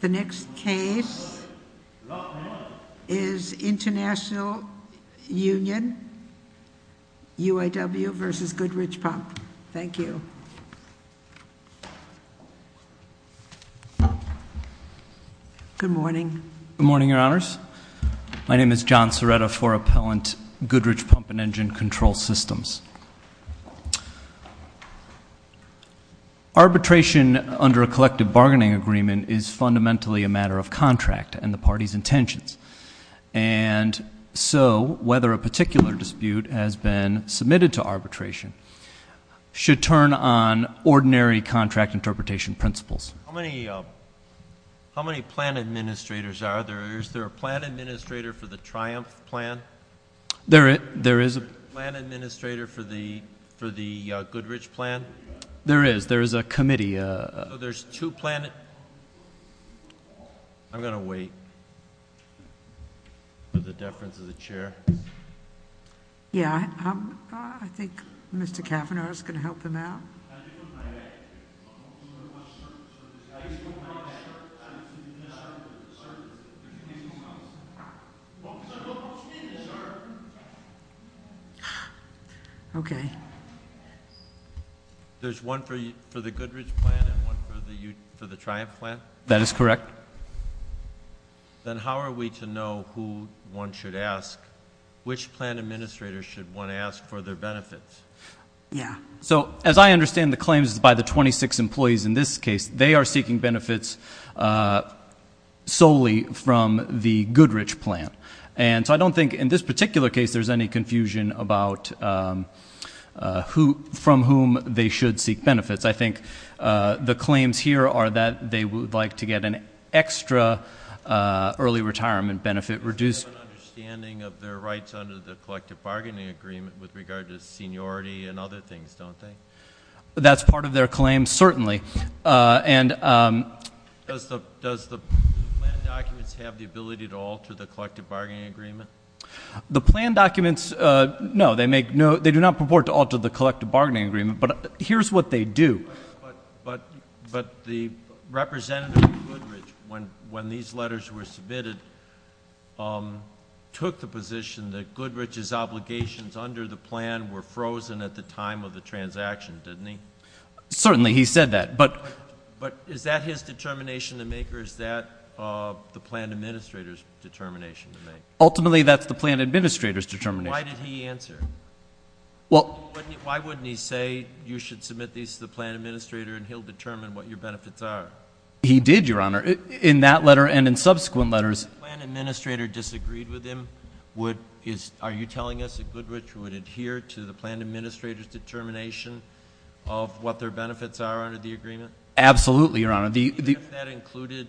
The next case is International Union UAW v. Goodrich Pump. Thank you. Good morning. Good morning, Your Honors. My name is John Serretta for Appellant Goodrich Pump and Engine Control Systems. Arbitration under a collective bargaining agreement is fundamentally a matter of contract and the party's intentions, and so whether a particular dispute has been submitted to arbitration should turn on ordinary contract interpretation principles. How many plan administrators are there? Is there a plan administrator for the Triumph plan? There is a plan administrator for the Goodrich plan? There is. There is a committee. There's two plan... I'm going to wait for the deference of the chair. Yeah, I think Mr. Kavanaugh is going to help him out. Okay. There's one for you for the Goodrich plan and one for the Triumph plan? That is correct. Then how are we to know who one should ask? Which plan administrator should one ask for their benefits? Yeah. So as I understand the claims by the 26 employees in this case, they are seeking benefits solely from the Goodrich plan, and so I don't think in this particular case there's any confusion about from whom they should seek benefits. I think the claims here are that they would like to get an extra early retirement benefit reduced... They have an understanding of their rights under the collective bargaining agreement with regard to seniority and other things, don't they? That's part of their claim, certainly, and... Does the plan documents have the ability to alter the collective bargaining agreement? The plan documents, no. They do not purport to alter the collective bargaining agreement, but here's what they do. But the representative of Goodrich, when these letters were submitted, took the position that Goodrich's obligations under the plan were frozen at the time of the transaction, didn't he? Certainly, he said that, but... But is that his plan administrator's determination to make? Ultimately, that's the plan administrator's determination. Why did he answer? Well... Why wouldn't he say you should submit these to the plan administrator and he'll determine what your benefits are? He did, Your Honor, in that letter and in subsequent letters. If the plan administrator disagreed with him, would... are you telling us that Goodrich would adhere to the plan administrator's determination of what their benefits are under the agreement? Absolutely, Your Honor. If that included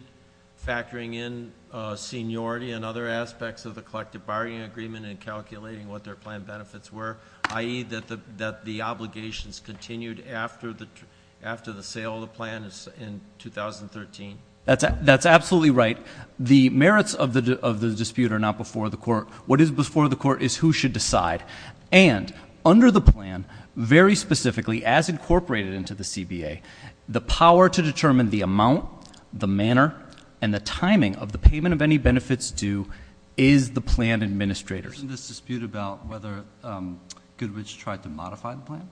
factoring in seniority and other aspects of the collective bargaining agreement and calculating what their plan benefits were, i.e., that the obligations continued after the sale of the plan in 2013? That's absolutely right. The merits of the dispute are not before the court. What is before the court is who should decide. And, under the plan, very specifically, as the district court pointed out, the power to determine the amount, the manner, and the timing of the payment of any benefits due is the plan administrator's. Isn't this dispute about whether Goodrich tried to modify the plan?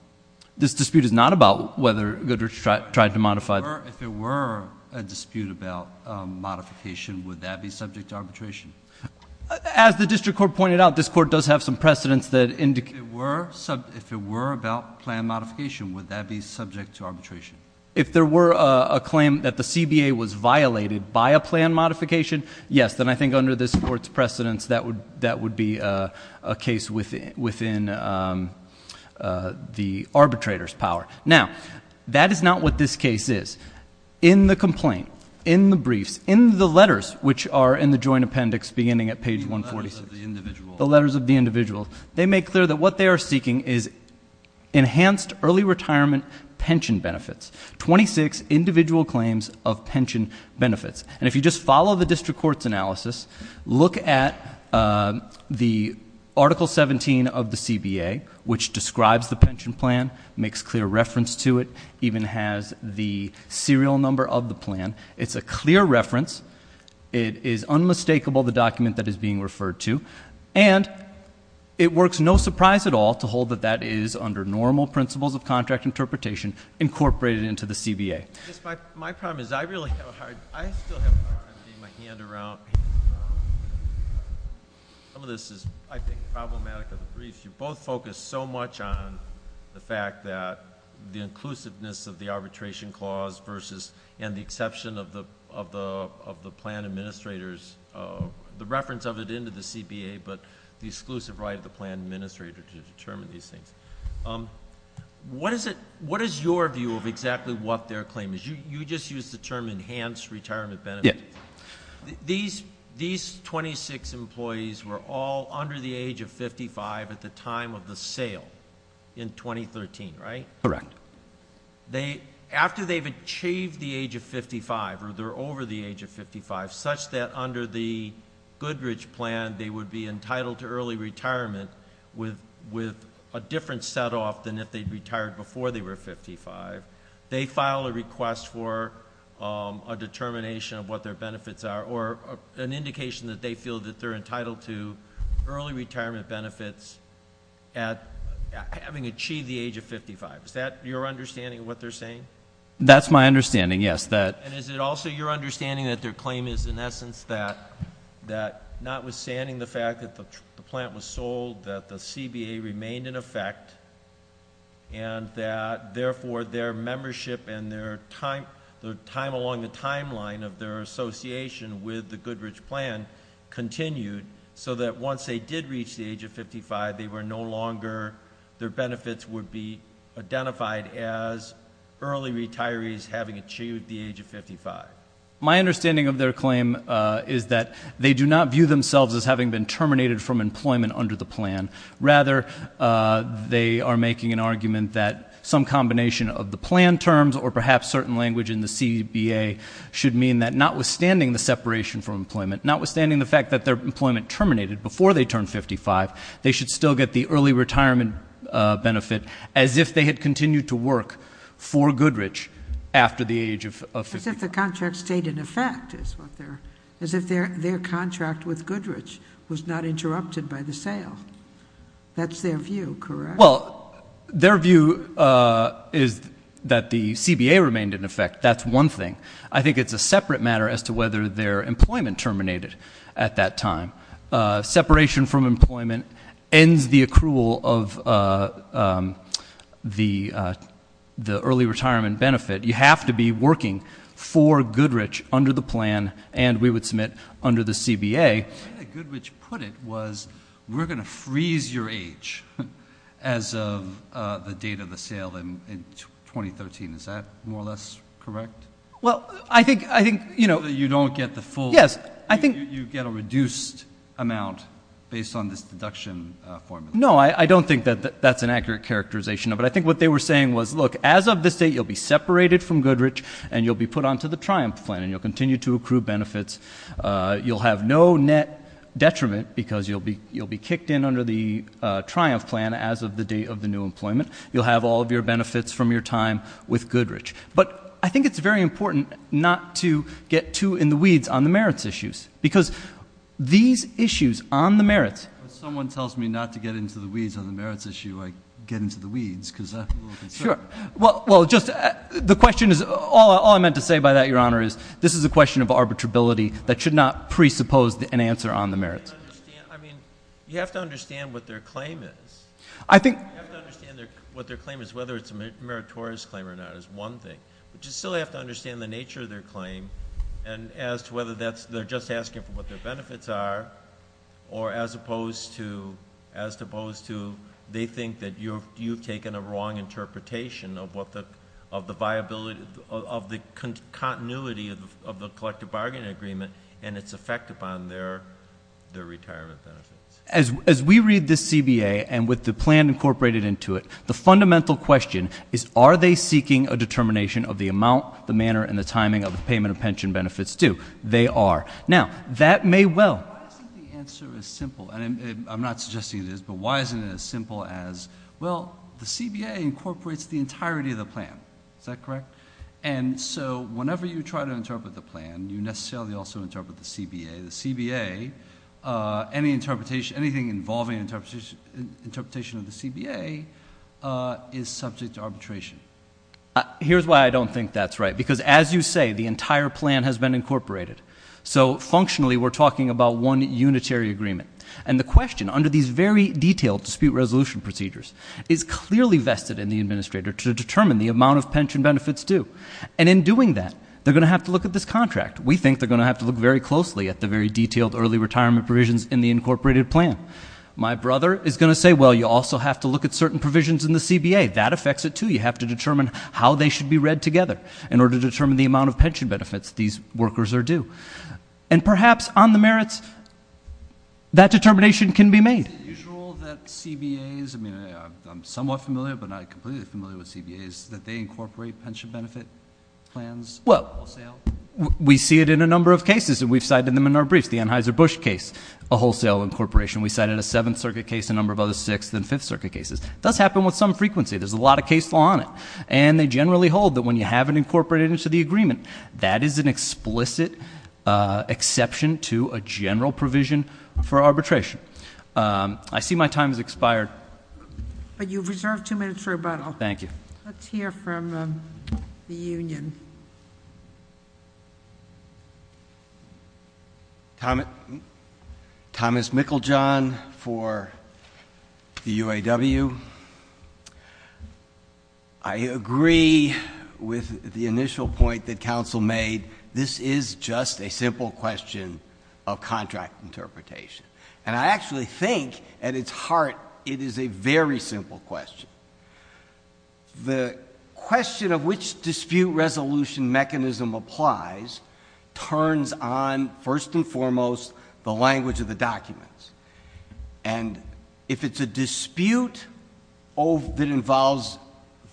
This dispute is not about whether Goodrich tried to modify... If there were a dispute about modification, would that be subject to arbitration? As the district court pointed out, this court does have some precedents that indicate... If it were about plan modification, would that be subject to arbitration? If there were a claim that the CBA was violated by a plan modification, yes. Then, I think under this court's precedents, that would be a case within the arbitrator's power. Now, that is not what this case is. In the complaint, in the briefs, in the letters, which are in the joint appendix beginning at page 146... The letters of the individual. The letters of the individual. They make clear that what they are seeking is enhanced early retirement pension benefits. Twenty-six individual claims of pension benefits. And if you just follow the district court's analysis, look at the Article 17 of the CBA, which describes the pension plan, makes clear reference to it, even has the serial number of the plan. It's a clear reference. It is unmistakable the document that is being referred to. And, it works no surprise at all to hold that that is, under normal principles of contract interpretation, incorporated into the CBA. My problem is, I really have a hard time... I still have a hard time getting my hand around... Some of this is, I think, problematic of the briefs. You both focused so much on the fact that the inclusiveness of the arbitration clause versus... and the exception of the plan administrator's... the reference of it into the CBA, but the exclusive right of the plan administrator to determine these things. What is it... what is your view of exactly what their claim is? You just used the term, enhanced retirement benefits. Yeah. These twenty-six employees were all under the age of 55 at the time of the sale in 2013, right? Correct. After they've achieved the age of 55, or they're over the age of 55, such that under the Goodridge plan, they would be entitled to early retirement with a different set-off than if they'd retired before they were 55, they file a request for a determination of what their benefits are, or an indication that they feel that they're entitled to early retirement benefits at... having your understanding of what they're saying? That's my understanding, yes. And is it also your understanding that their claim is, in essence, that notwithstanding the fact that the plant was sold, that the CBA remained in effect, and that, therefore, their membership and their time along the timeline of their association with the Goodridge plan continued, so that once they did reach the age of 55, they were no longer... their as early retirees having achieved the age of 55? My understanding of their claim is that they do not view themselves as having been terminated from employment under the plan. Rather, they are making an argument that some combination of the plan terms, or perhaps certain language in the CBA, should mean that notwithstanding the separation from employment, notwithstanding the fact that their employment terminated before they turned 55, they should still get the early retirement benefit as if they had continued to work for Goodridge after the age of 55. As if the contract stayed in effect, is what they're... as if their contract with Goodridge was not interrupted by the sale. That's their view, correct? Well, their view is that the CBA remained in effect. That's one thing. I think it's a separate matter as to whether their employment terminated at that time. Separation from employment ends the accrual of the early retirement benefit. You have to be working for Goodridge under the plan, and we would submit under the CBA. The way that Goodridge put it was, we're going to freeze your age as of the date of the sale in 2013. Is that more or less correct? Well, I think... So that you don't get the full... Yes. You get a reduced amount based on this deduction formula. No, I don't think that that's an accurate characterization of it. I think what they were saying was, look, as of this date, you'll be separated from Goodridge and you'll be put onto the Triumph plan and you'll continue to accrue benefits. You'll have no net detriment because you'll be kicked in under the Triumph plan as of the date of the new employment. You'll have all of your benefits from your time with Goodridge. But I think it's very important not to get too in the weeds on the merits issues. Because these issues on the merits... When someone tells me not to get into the weeds on the merits issue, I get into the weeds because I have a little concern. Sure. Well, just... The question is... All I meant to say by that, Your Honor, is this is a question of arbitrability that should not presuppose an answer on the merits. I mean, you have to understand what their claim is. I think... You have to understand what their claim is, whether it's a meritorious claim or not is one thing. But you still have to understand the nature of their claim and as to whether that's... they're just asking for what their benefits are or as opposed to... as opposed to... they think that you've taken a wrong interpretation of what the... of the viability... of the continuity of the collective bargaining agreement and its effect upon their retirement benefits. As we read this CBA and with the plan incorporated into it, the fundamental question is are they seeking a determination of the amount, the manner, and the timing of the payment of pension benefits too? They are. Now, that may well... Why isn't the answer as simple... and I'm not suggesting it is, but why isn't it as simple as, well, the CBA incorporates the entirety of the plan, is that correct? And so, whenever you try to interpret the plan, you necessarily also interpret the CBA. The CBA... any interpretation... anything involving interpretation of the CBA is subject to arbitration. Here's why I don't think that's right, because as you say, the entire plan has been incorporated. So functionally, we're talking about one unitary agreement. And the question, under these very detailed dispute resolution procedures, is clearly vested in the administrator to determine the amount of pension benefits due. And in doing that, they're going to have to look at this contract. We think they're going to have to look very closely at the very detailed early retirement provisions in the incorporated plan. My brother is going to say, well, you also have to look at certain provisions in the statute, too. You have to determine how they should be read together in order to determine the amount of pension benefits these workers are due. And perhaps, on the merits, that determination can be made. Is it usual that CBAs... I mean, I'm somewhat familiar, but not completely familiar with CBAs... that they incorporate pension benefit plans wholesale? Well, we see it in a number of cases, and we've cited them in our briefs. The Anheuser-Busch case, a wholesale incorporation. We cited a Seventh Circuit case, a number of other Sixth and Fifth Circuit cases. Does happen with some frequency. There's a lot of case law on it. And they generally hold that when you have it incorporated into the agreement, that is an explicit exception to a general provision for arbitration. I see my time has expired. But you've reserved two minutes for rebuttal. Thank you. Let's hear from the union. Thank you. Thomas Mickeljohn for the UAW. I agree with the initial point that counsel made. This is just a simple question of contract interpretation. And I actually think, at its heart, it is a very simple question. The question of which dispute resolution mechanism applies turns on, first and foremost, the language of the documents. And if it's a dispute that involves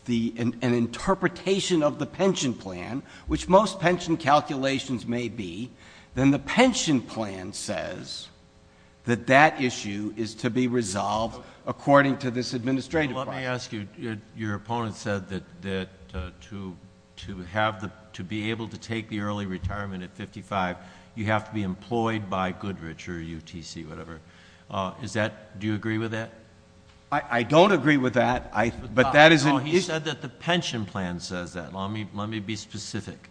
an interpretation of the pension plan, which most pension calculations may be, then the pension plan says that that issue is to be resolved according to this administrative process. Let me ask you, your opponent said that to be able to take the early retirement at 55, you have to be employed by Goodrich or UTC, whatever. Do you agree with that? I don't agree with that. But that is an issue. No, he said that the pension plan says that. Let me be specific.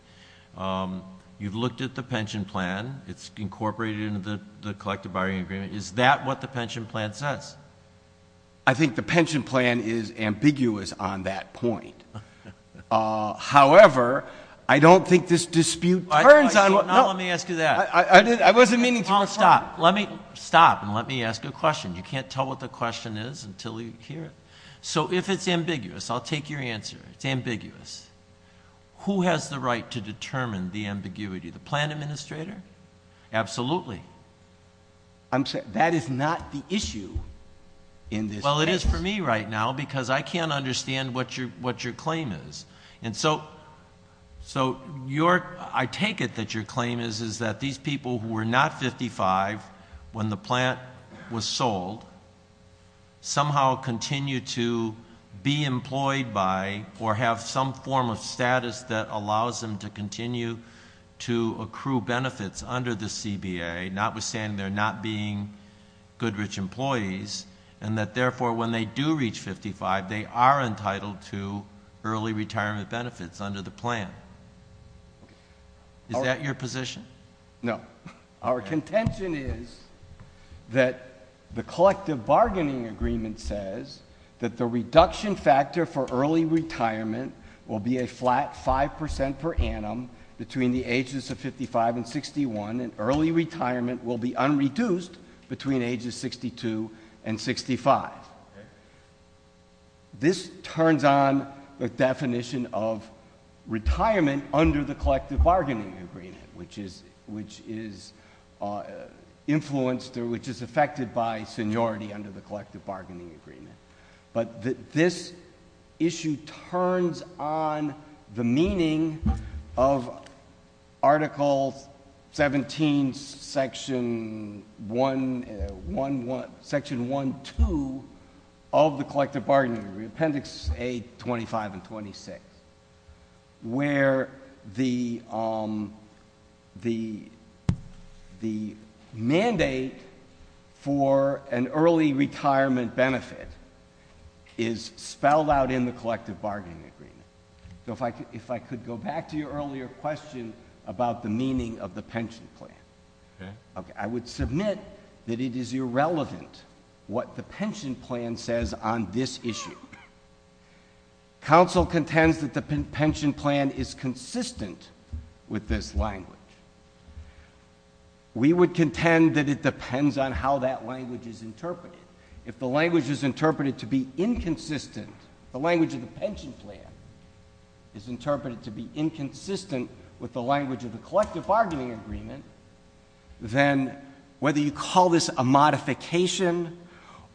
You've looked at the pension plan. It's incorporated into the collective bargaining agreement. Is that what the pension plan says? I think the pension plan is ambiguous on that point. However, I don't think this dispute turns on... Now let me ask you that. I wasn't meaning to... Paul, stop. Let me stop and let me ask you a question. You can't tell what the question is until you hear it. So if it's ambiguous, I'll take your answer, it's ambiguous, who has the right to determine the ambiguity? The plan administrator? Absolutely. I'm sorry, that is not the issue in this case. Well, it is for me right now because I can't understand what your claim is. And so I take it that your claim is that these people who were not 55 when the plan was sold somehow continue to be employed by or have some form of status that allows them to continue to accrue benefits under the CBA, notwithstanding they're not being good rich employees, and that therefore when they do reach 55, they are entitled to early retirement benefits under the plan. Is that your position? No. Our contention is that the collective bargaining agreement says that the reduction factor for between the ages of 55 and 61 and early retirement will be unreduced between ages 62 and 65. This turns on the definition of retirement under the collective bargaining agreement, which is influenced or which is affected by seniority under the collective bargaining agreement. But this issue turns on the meaning of Article 17, Section 1.2 of the collective bargaining agreement, Appendix A, 25 and 26, where the mandate for an early retirement benefit is spelled out in the collective bargaining agreement. So if I could go back to your earlier question about the meaning of the pension plan. I would submit that it is irrelevant what the pension plan says on this issue. Counsel contends that the pension plan is consistent with this language. We would contend that it depends on how that language is interpreted. If the language is interpreted to be inconsistent, the language of the pension plan is interpreted to be inconsistent with the language of the collective bargaining agreement, then whether you call this a modification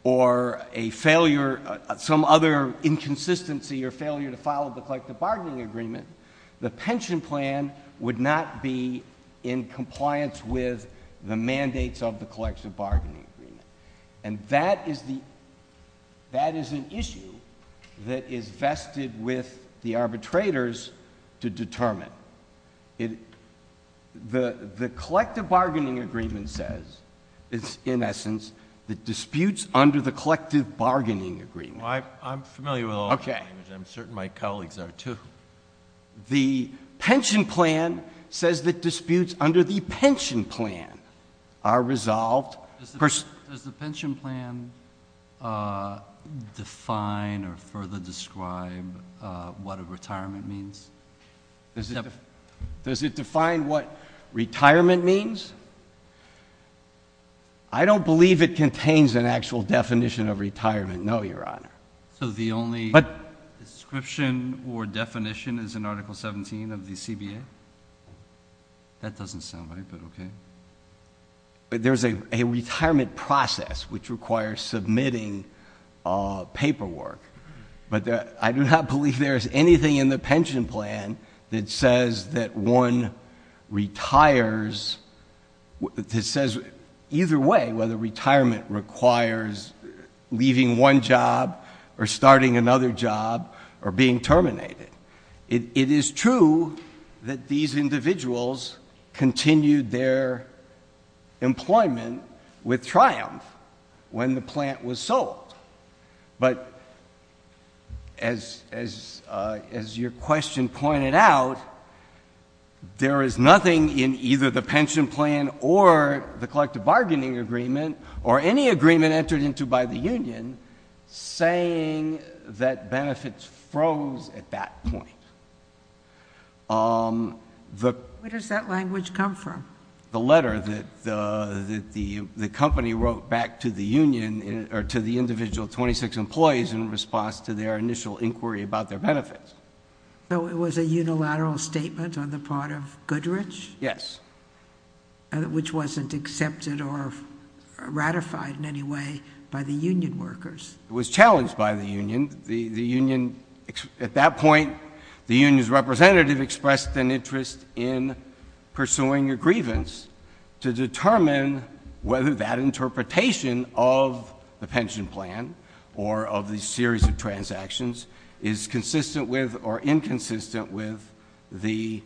or a failure, some other inconsistency or failure to follow the collective bargaining agreement, the pension plan would not be in compliance with the mandates of the collective bargaining agreement. And that is an issue that is vested with the arbitrators to determine. The collective bargaining agreement says, in essence, that disputes under the collective bargaining agreement Well, I'm familiar with all that language. I'm certain my colleagues are, too. The pension plan says that disputes under the pension plan are resolved Does the pension plan define or further describe what a retirement means? Does it define what retirement means? I don't believe it contains an actual definition of retirement, no, Your Honor. So the only description or definition is in Article 17 of the CBA? That doesn't sound right, but okay. There's a retirement process which requires submitting paperwork. But I do not believe there is anything in the pension plan that says that one retires that says either way whether retirement requires leaving one job or starting another job or being terminated. It is true that these individuals continued their employment with triumph when the plant was sold. But as your question pointed out, there is nothing in either the pension plan or the collective bargaining agreement or any agreement entered into by the union saying that benefits froze at that point. Where does that language come from? The letter that the company wrote back to the union or to the individual 26 employees in response to their initial inquiry about their benefits. So it was a unilateral statement on the part of Goodrich? Yes. Which wasn't accepted or ratified in any way by the union workers. It was challenged by the union. At that point, the union's representative expressed an interest in pursuing a grievance to determine whether that interpretation of the pension plan or of the series of transactions is consistent with or inconsistent with the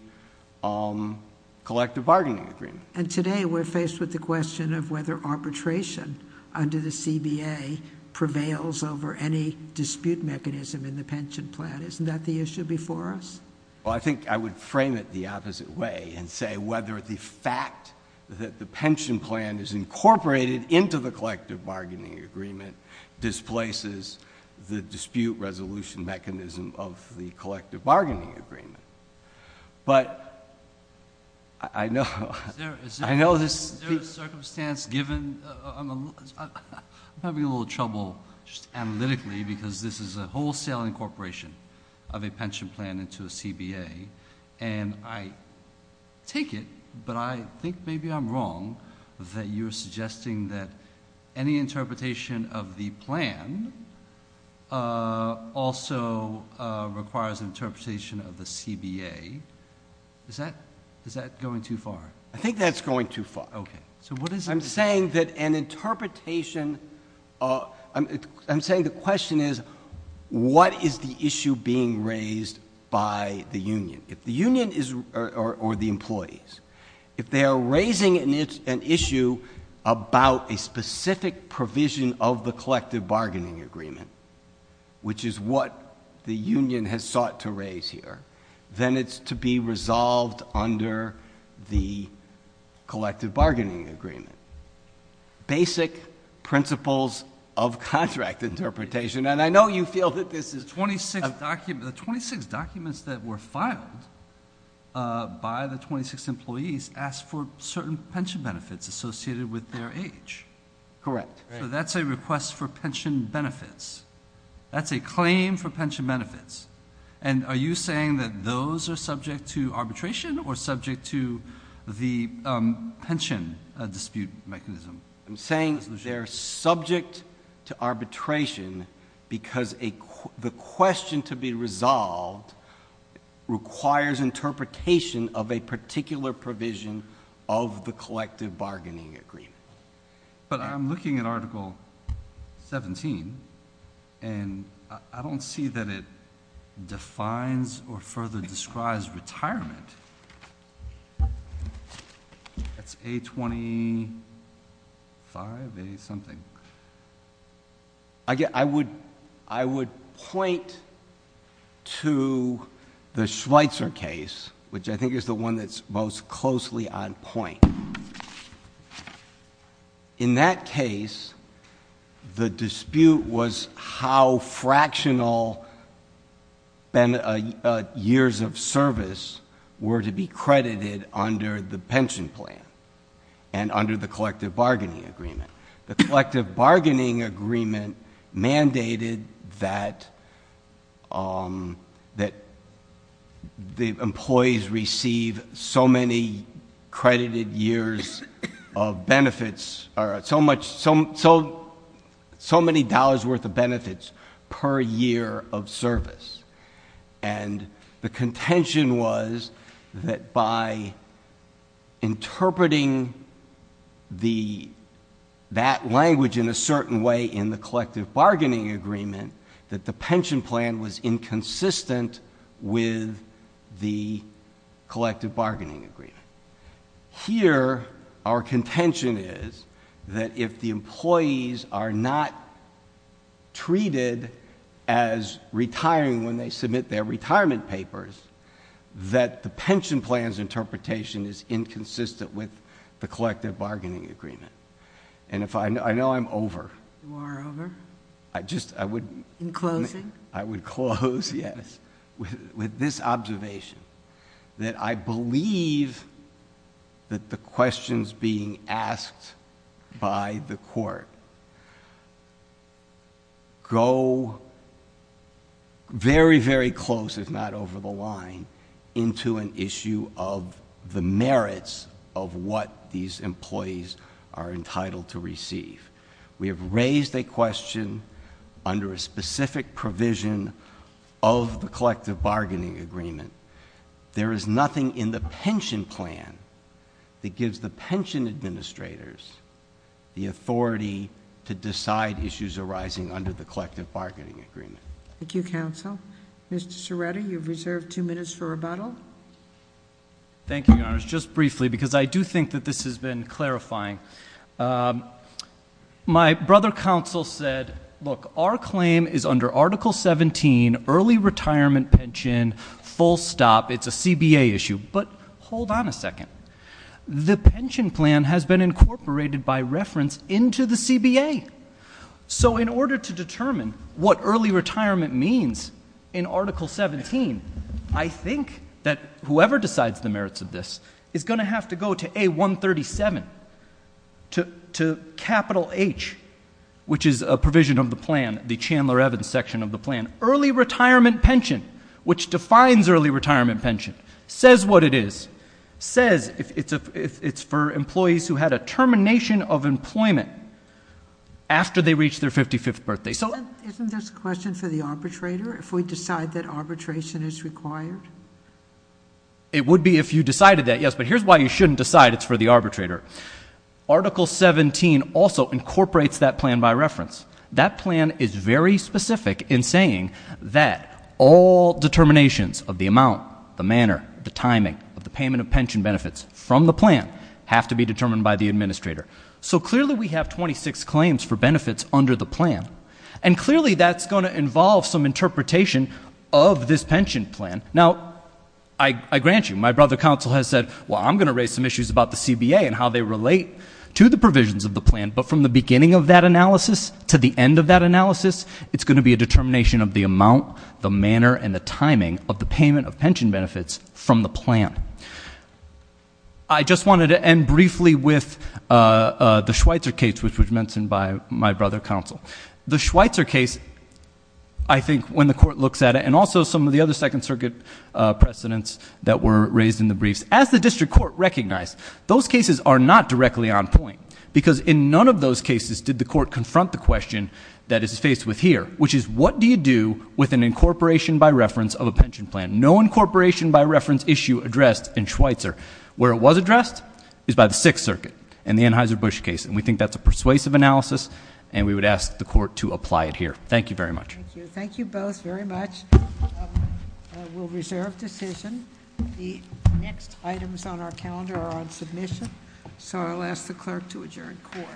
collective bargaining agreement. And today we're faced with the question of whether arbitration under the CBA prevails over any dispute mechanism in the pension plan. Isn't that the issue before us? Well, I think I would frame it the opposite way and say whether the fact that the pension plan is incorporated into the collective bargaining agreement displaces the dispute resolution mechanism of the collective bargaining agreement. But I know this— Is there a circumstance given—I'm having a little trouble just analytically because this is a wholesale incorporation of a pension plan into a CBA, and I take it, but I think maybe I'm wrong, that you're suggesting that any interpretation of the plan also requires an interpretation of the CBA. Is that going too far? I think that's going too far. I'm saying that an interpretation— I'm saying the question is what is the issue being raised by the union or the employees. If they are raising an issue about a specific provision of the collective bargaining agreement, which is what the union has sought to raise here, then it's to be resolved under the collective bargaining agreement. Basic principles of contract interpretation, and I know you feel that this is— The 26 documents that were filed by the 26 employees asked for certain pension benefits associated with their age. Correct. So that's a request for pension benefits. That's a claim for pension benefits. And are you saying that those are subject to arbitration or subject to the pension dispute mechanism? I'm saying they're subject to arbitration because the question to be resolved requires interpretation of a particular provision of the collective bargaining agreement. But I'm looking at Article 17, and I don't see that it defines or further describes retirement. That's A25, A something. I would point to the Schweitzer case, which I think is the one that's most closely on point. In that case, the dispute was how fractional years of service were to be credited under the pension plan and under the collective bargaining agreement. The collective bargaining agreement mandated that the employees receive so many credited years of benefits or so many dollars' worth of benefits per year of service. And the contention was that by interpreting that language in a certain way in the collective bargaining agreement, that the pension plan was inconsistent with the collective bargaining agreement. Here, our contention is that if the employees are not treated as retiring when they submit their retirement papers, that the pension plan's interpretation is inconsistent with the collective bargaining agreement. And I know I'm over. You are over? In closing? I would close, yes, with this observation, that I believe that the questions being asked by the court go very, very close, if not over the line, into an issue of the merits of what these employees are entitled to receive. We have raised a question under a specific provision of the collective bargaining agreement. There is nothing in the pension plan that gives the pension administrators the authority to decide issues arising under the collective bargaining agreement. Thank you, counsel. Mr. Cerretta, you have reserved two minutes for rebuttal. Thank you, Your Honors. Just briefly, because I do think that this has been clarifying. My brother counsel said, look, our claim is under Article 17, early retirement pension, full stop. It's a CBA issue. But hold on a second. The pension plan has been incorporated by reference into the CBA. So in order to determine what early retirement means in Article 17, I think that whoever decides the merits of this is going to have to go to A137, to capital H, which is a provision of the plan, the Chandler Evans section of the plan. Early retirement pension, which defines early retirement pension, says what it is, says it's for employees who had a termination of employment after they reached their 55th birthday. Isn't this a question for the arbitrator if we decide that arbitration is required? It would be if you decided that, yes. But here's why you shouldn't decide it's for the arbitrator. Article 17 also incorporates that plan by reference. That plan is very specific in saying that all determinations of the amount, the manner, the timing of the payment of pension benefits from the plan have to be determined by the administrator. So clearly we have 26 claims for benefits under the plan, and clearly that's going to involve some interpretation of this pension plan. Now, I grant you, my brother counsel has said, well, I'm going to raise some issues about the CBA and how they relate to the provisions of the plan. But from the beginning of that analysis to the end of that analysis, it's going to be a determination of the amount, the manner, and the timing of the payment of pension benefits from the plan. I just wanted to end briefly with the Schweitzer case, which was mentioned by my brother counsel. The Schweitzer case, I think when the court looks at it, and also some of the other Second Circuit precedents that were raised in the briefs, as the district court recognized, those cases are not directly on point because in none of those cases did the court confront the question that is faced with here, which is what do you do with an incorporation by reference of a pension plan? No incorporation by reference issue addressed in Schweitzer. Where it was addressed is by the Sixth Circuit in the Anheuser-Busch case, and we think that's a persuasive analysis, and we would ask the court to apply it here. Thank you very much. Thank you. Thank you both very much. We'll reserve decision. The next items on our calendar are on submission, so I'll ask the clerk to adjourn court. Court is adjourned.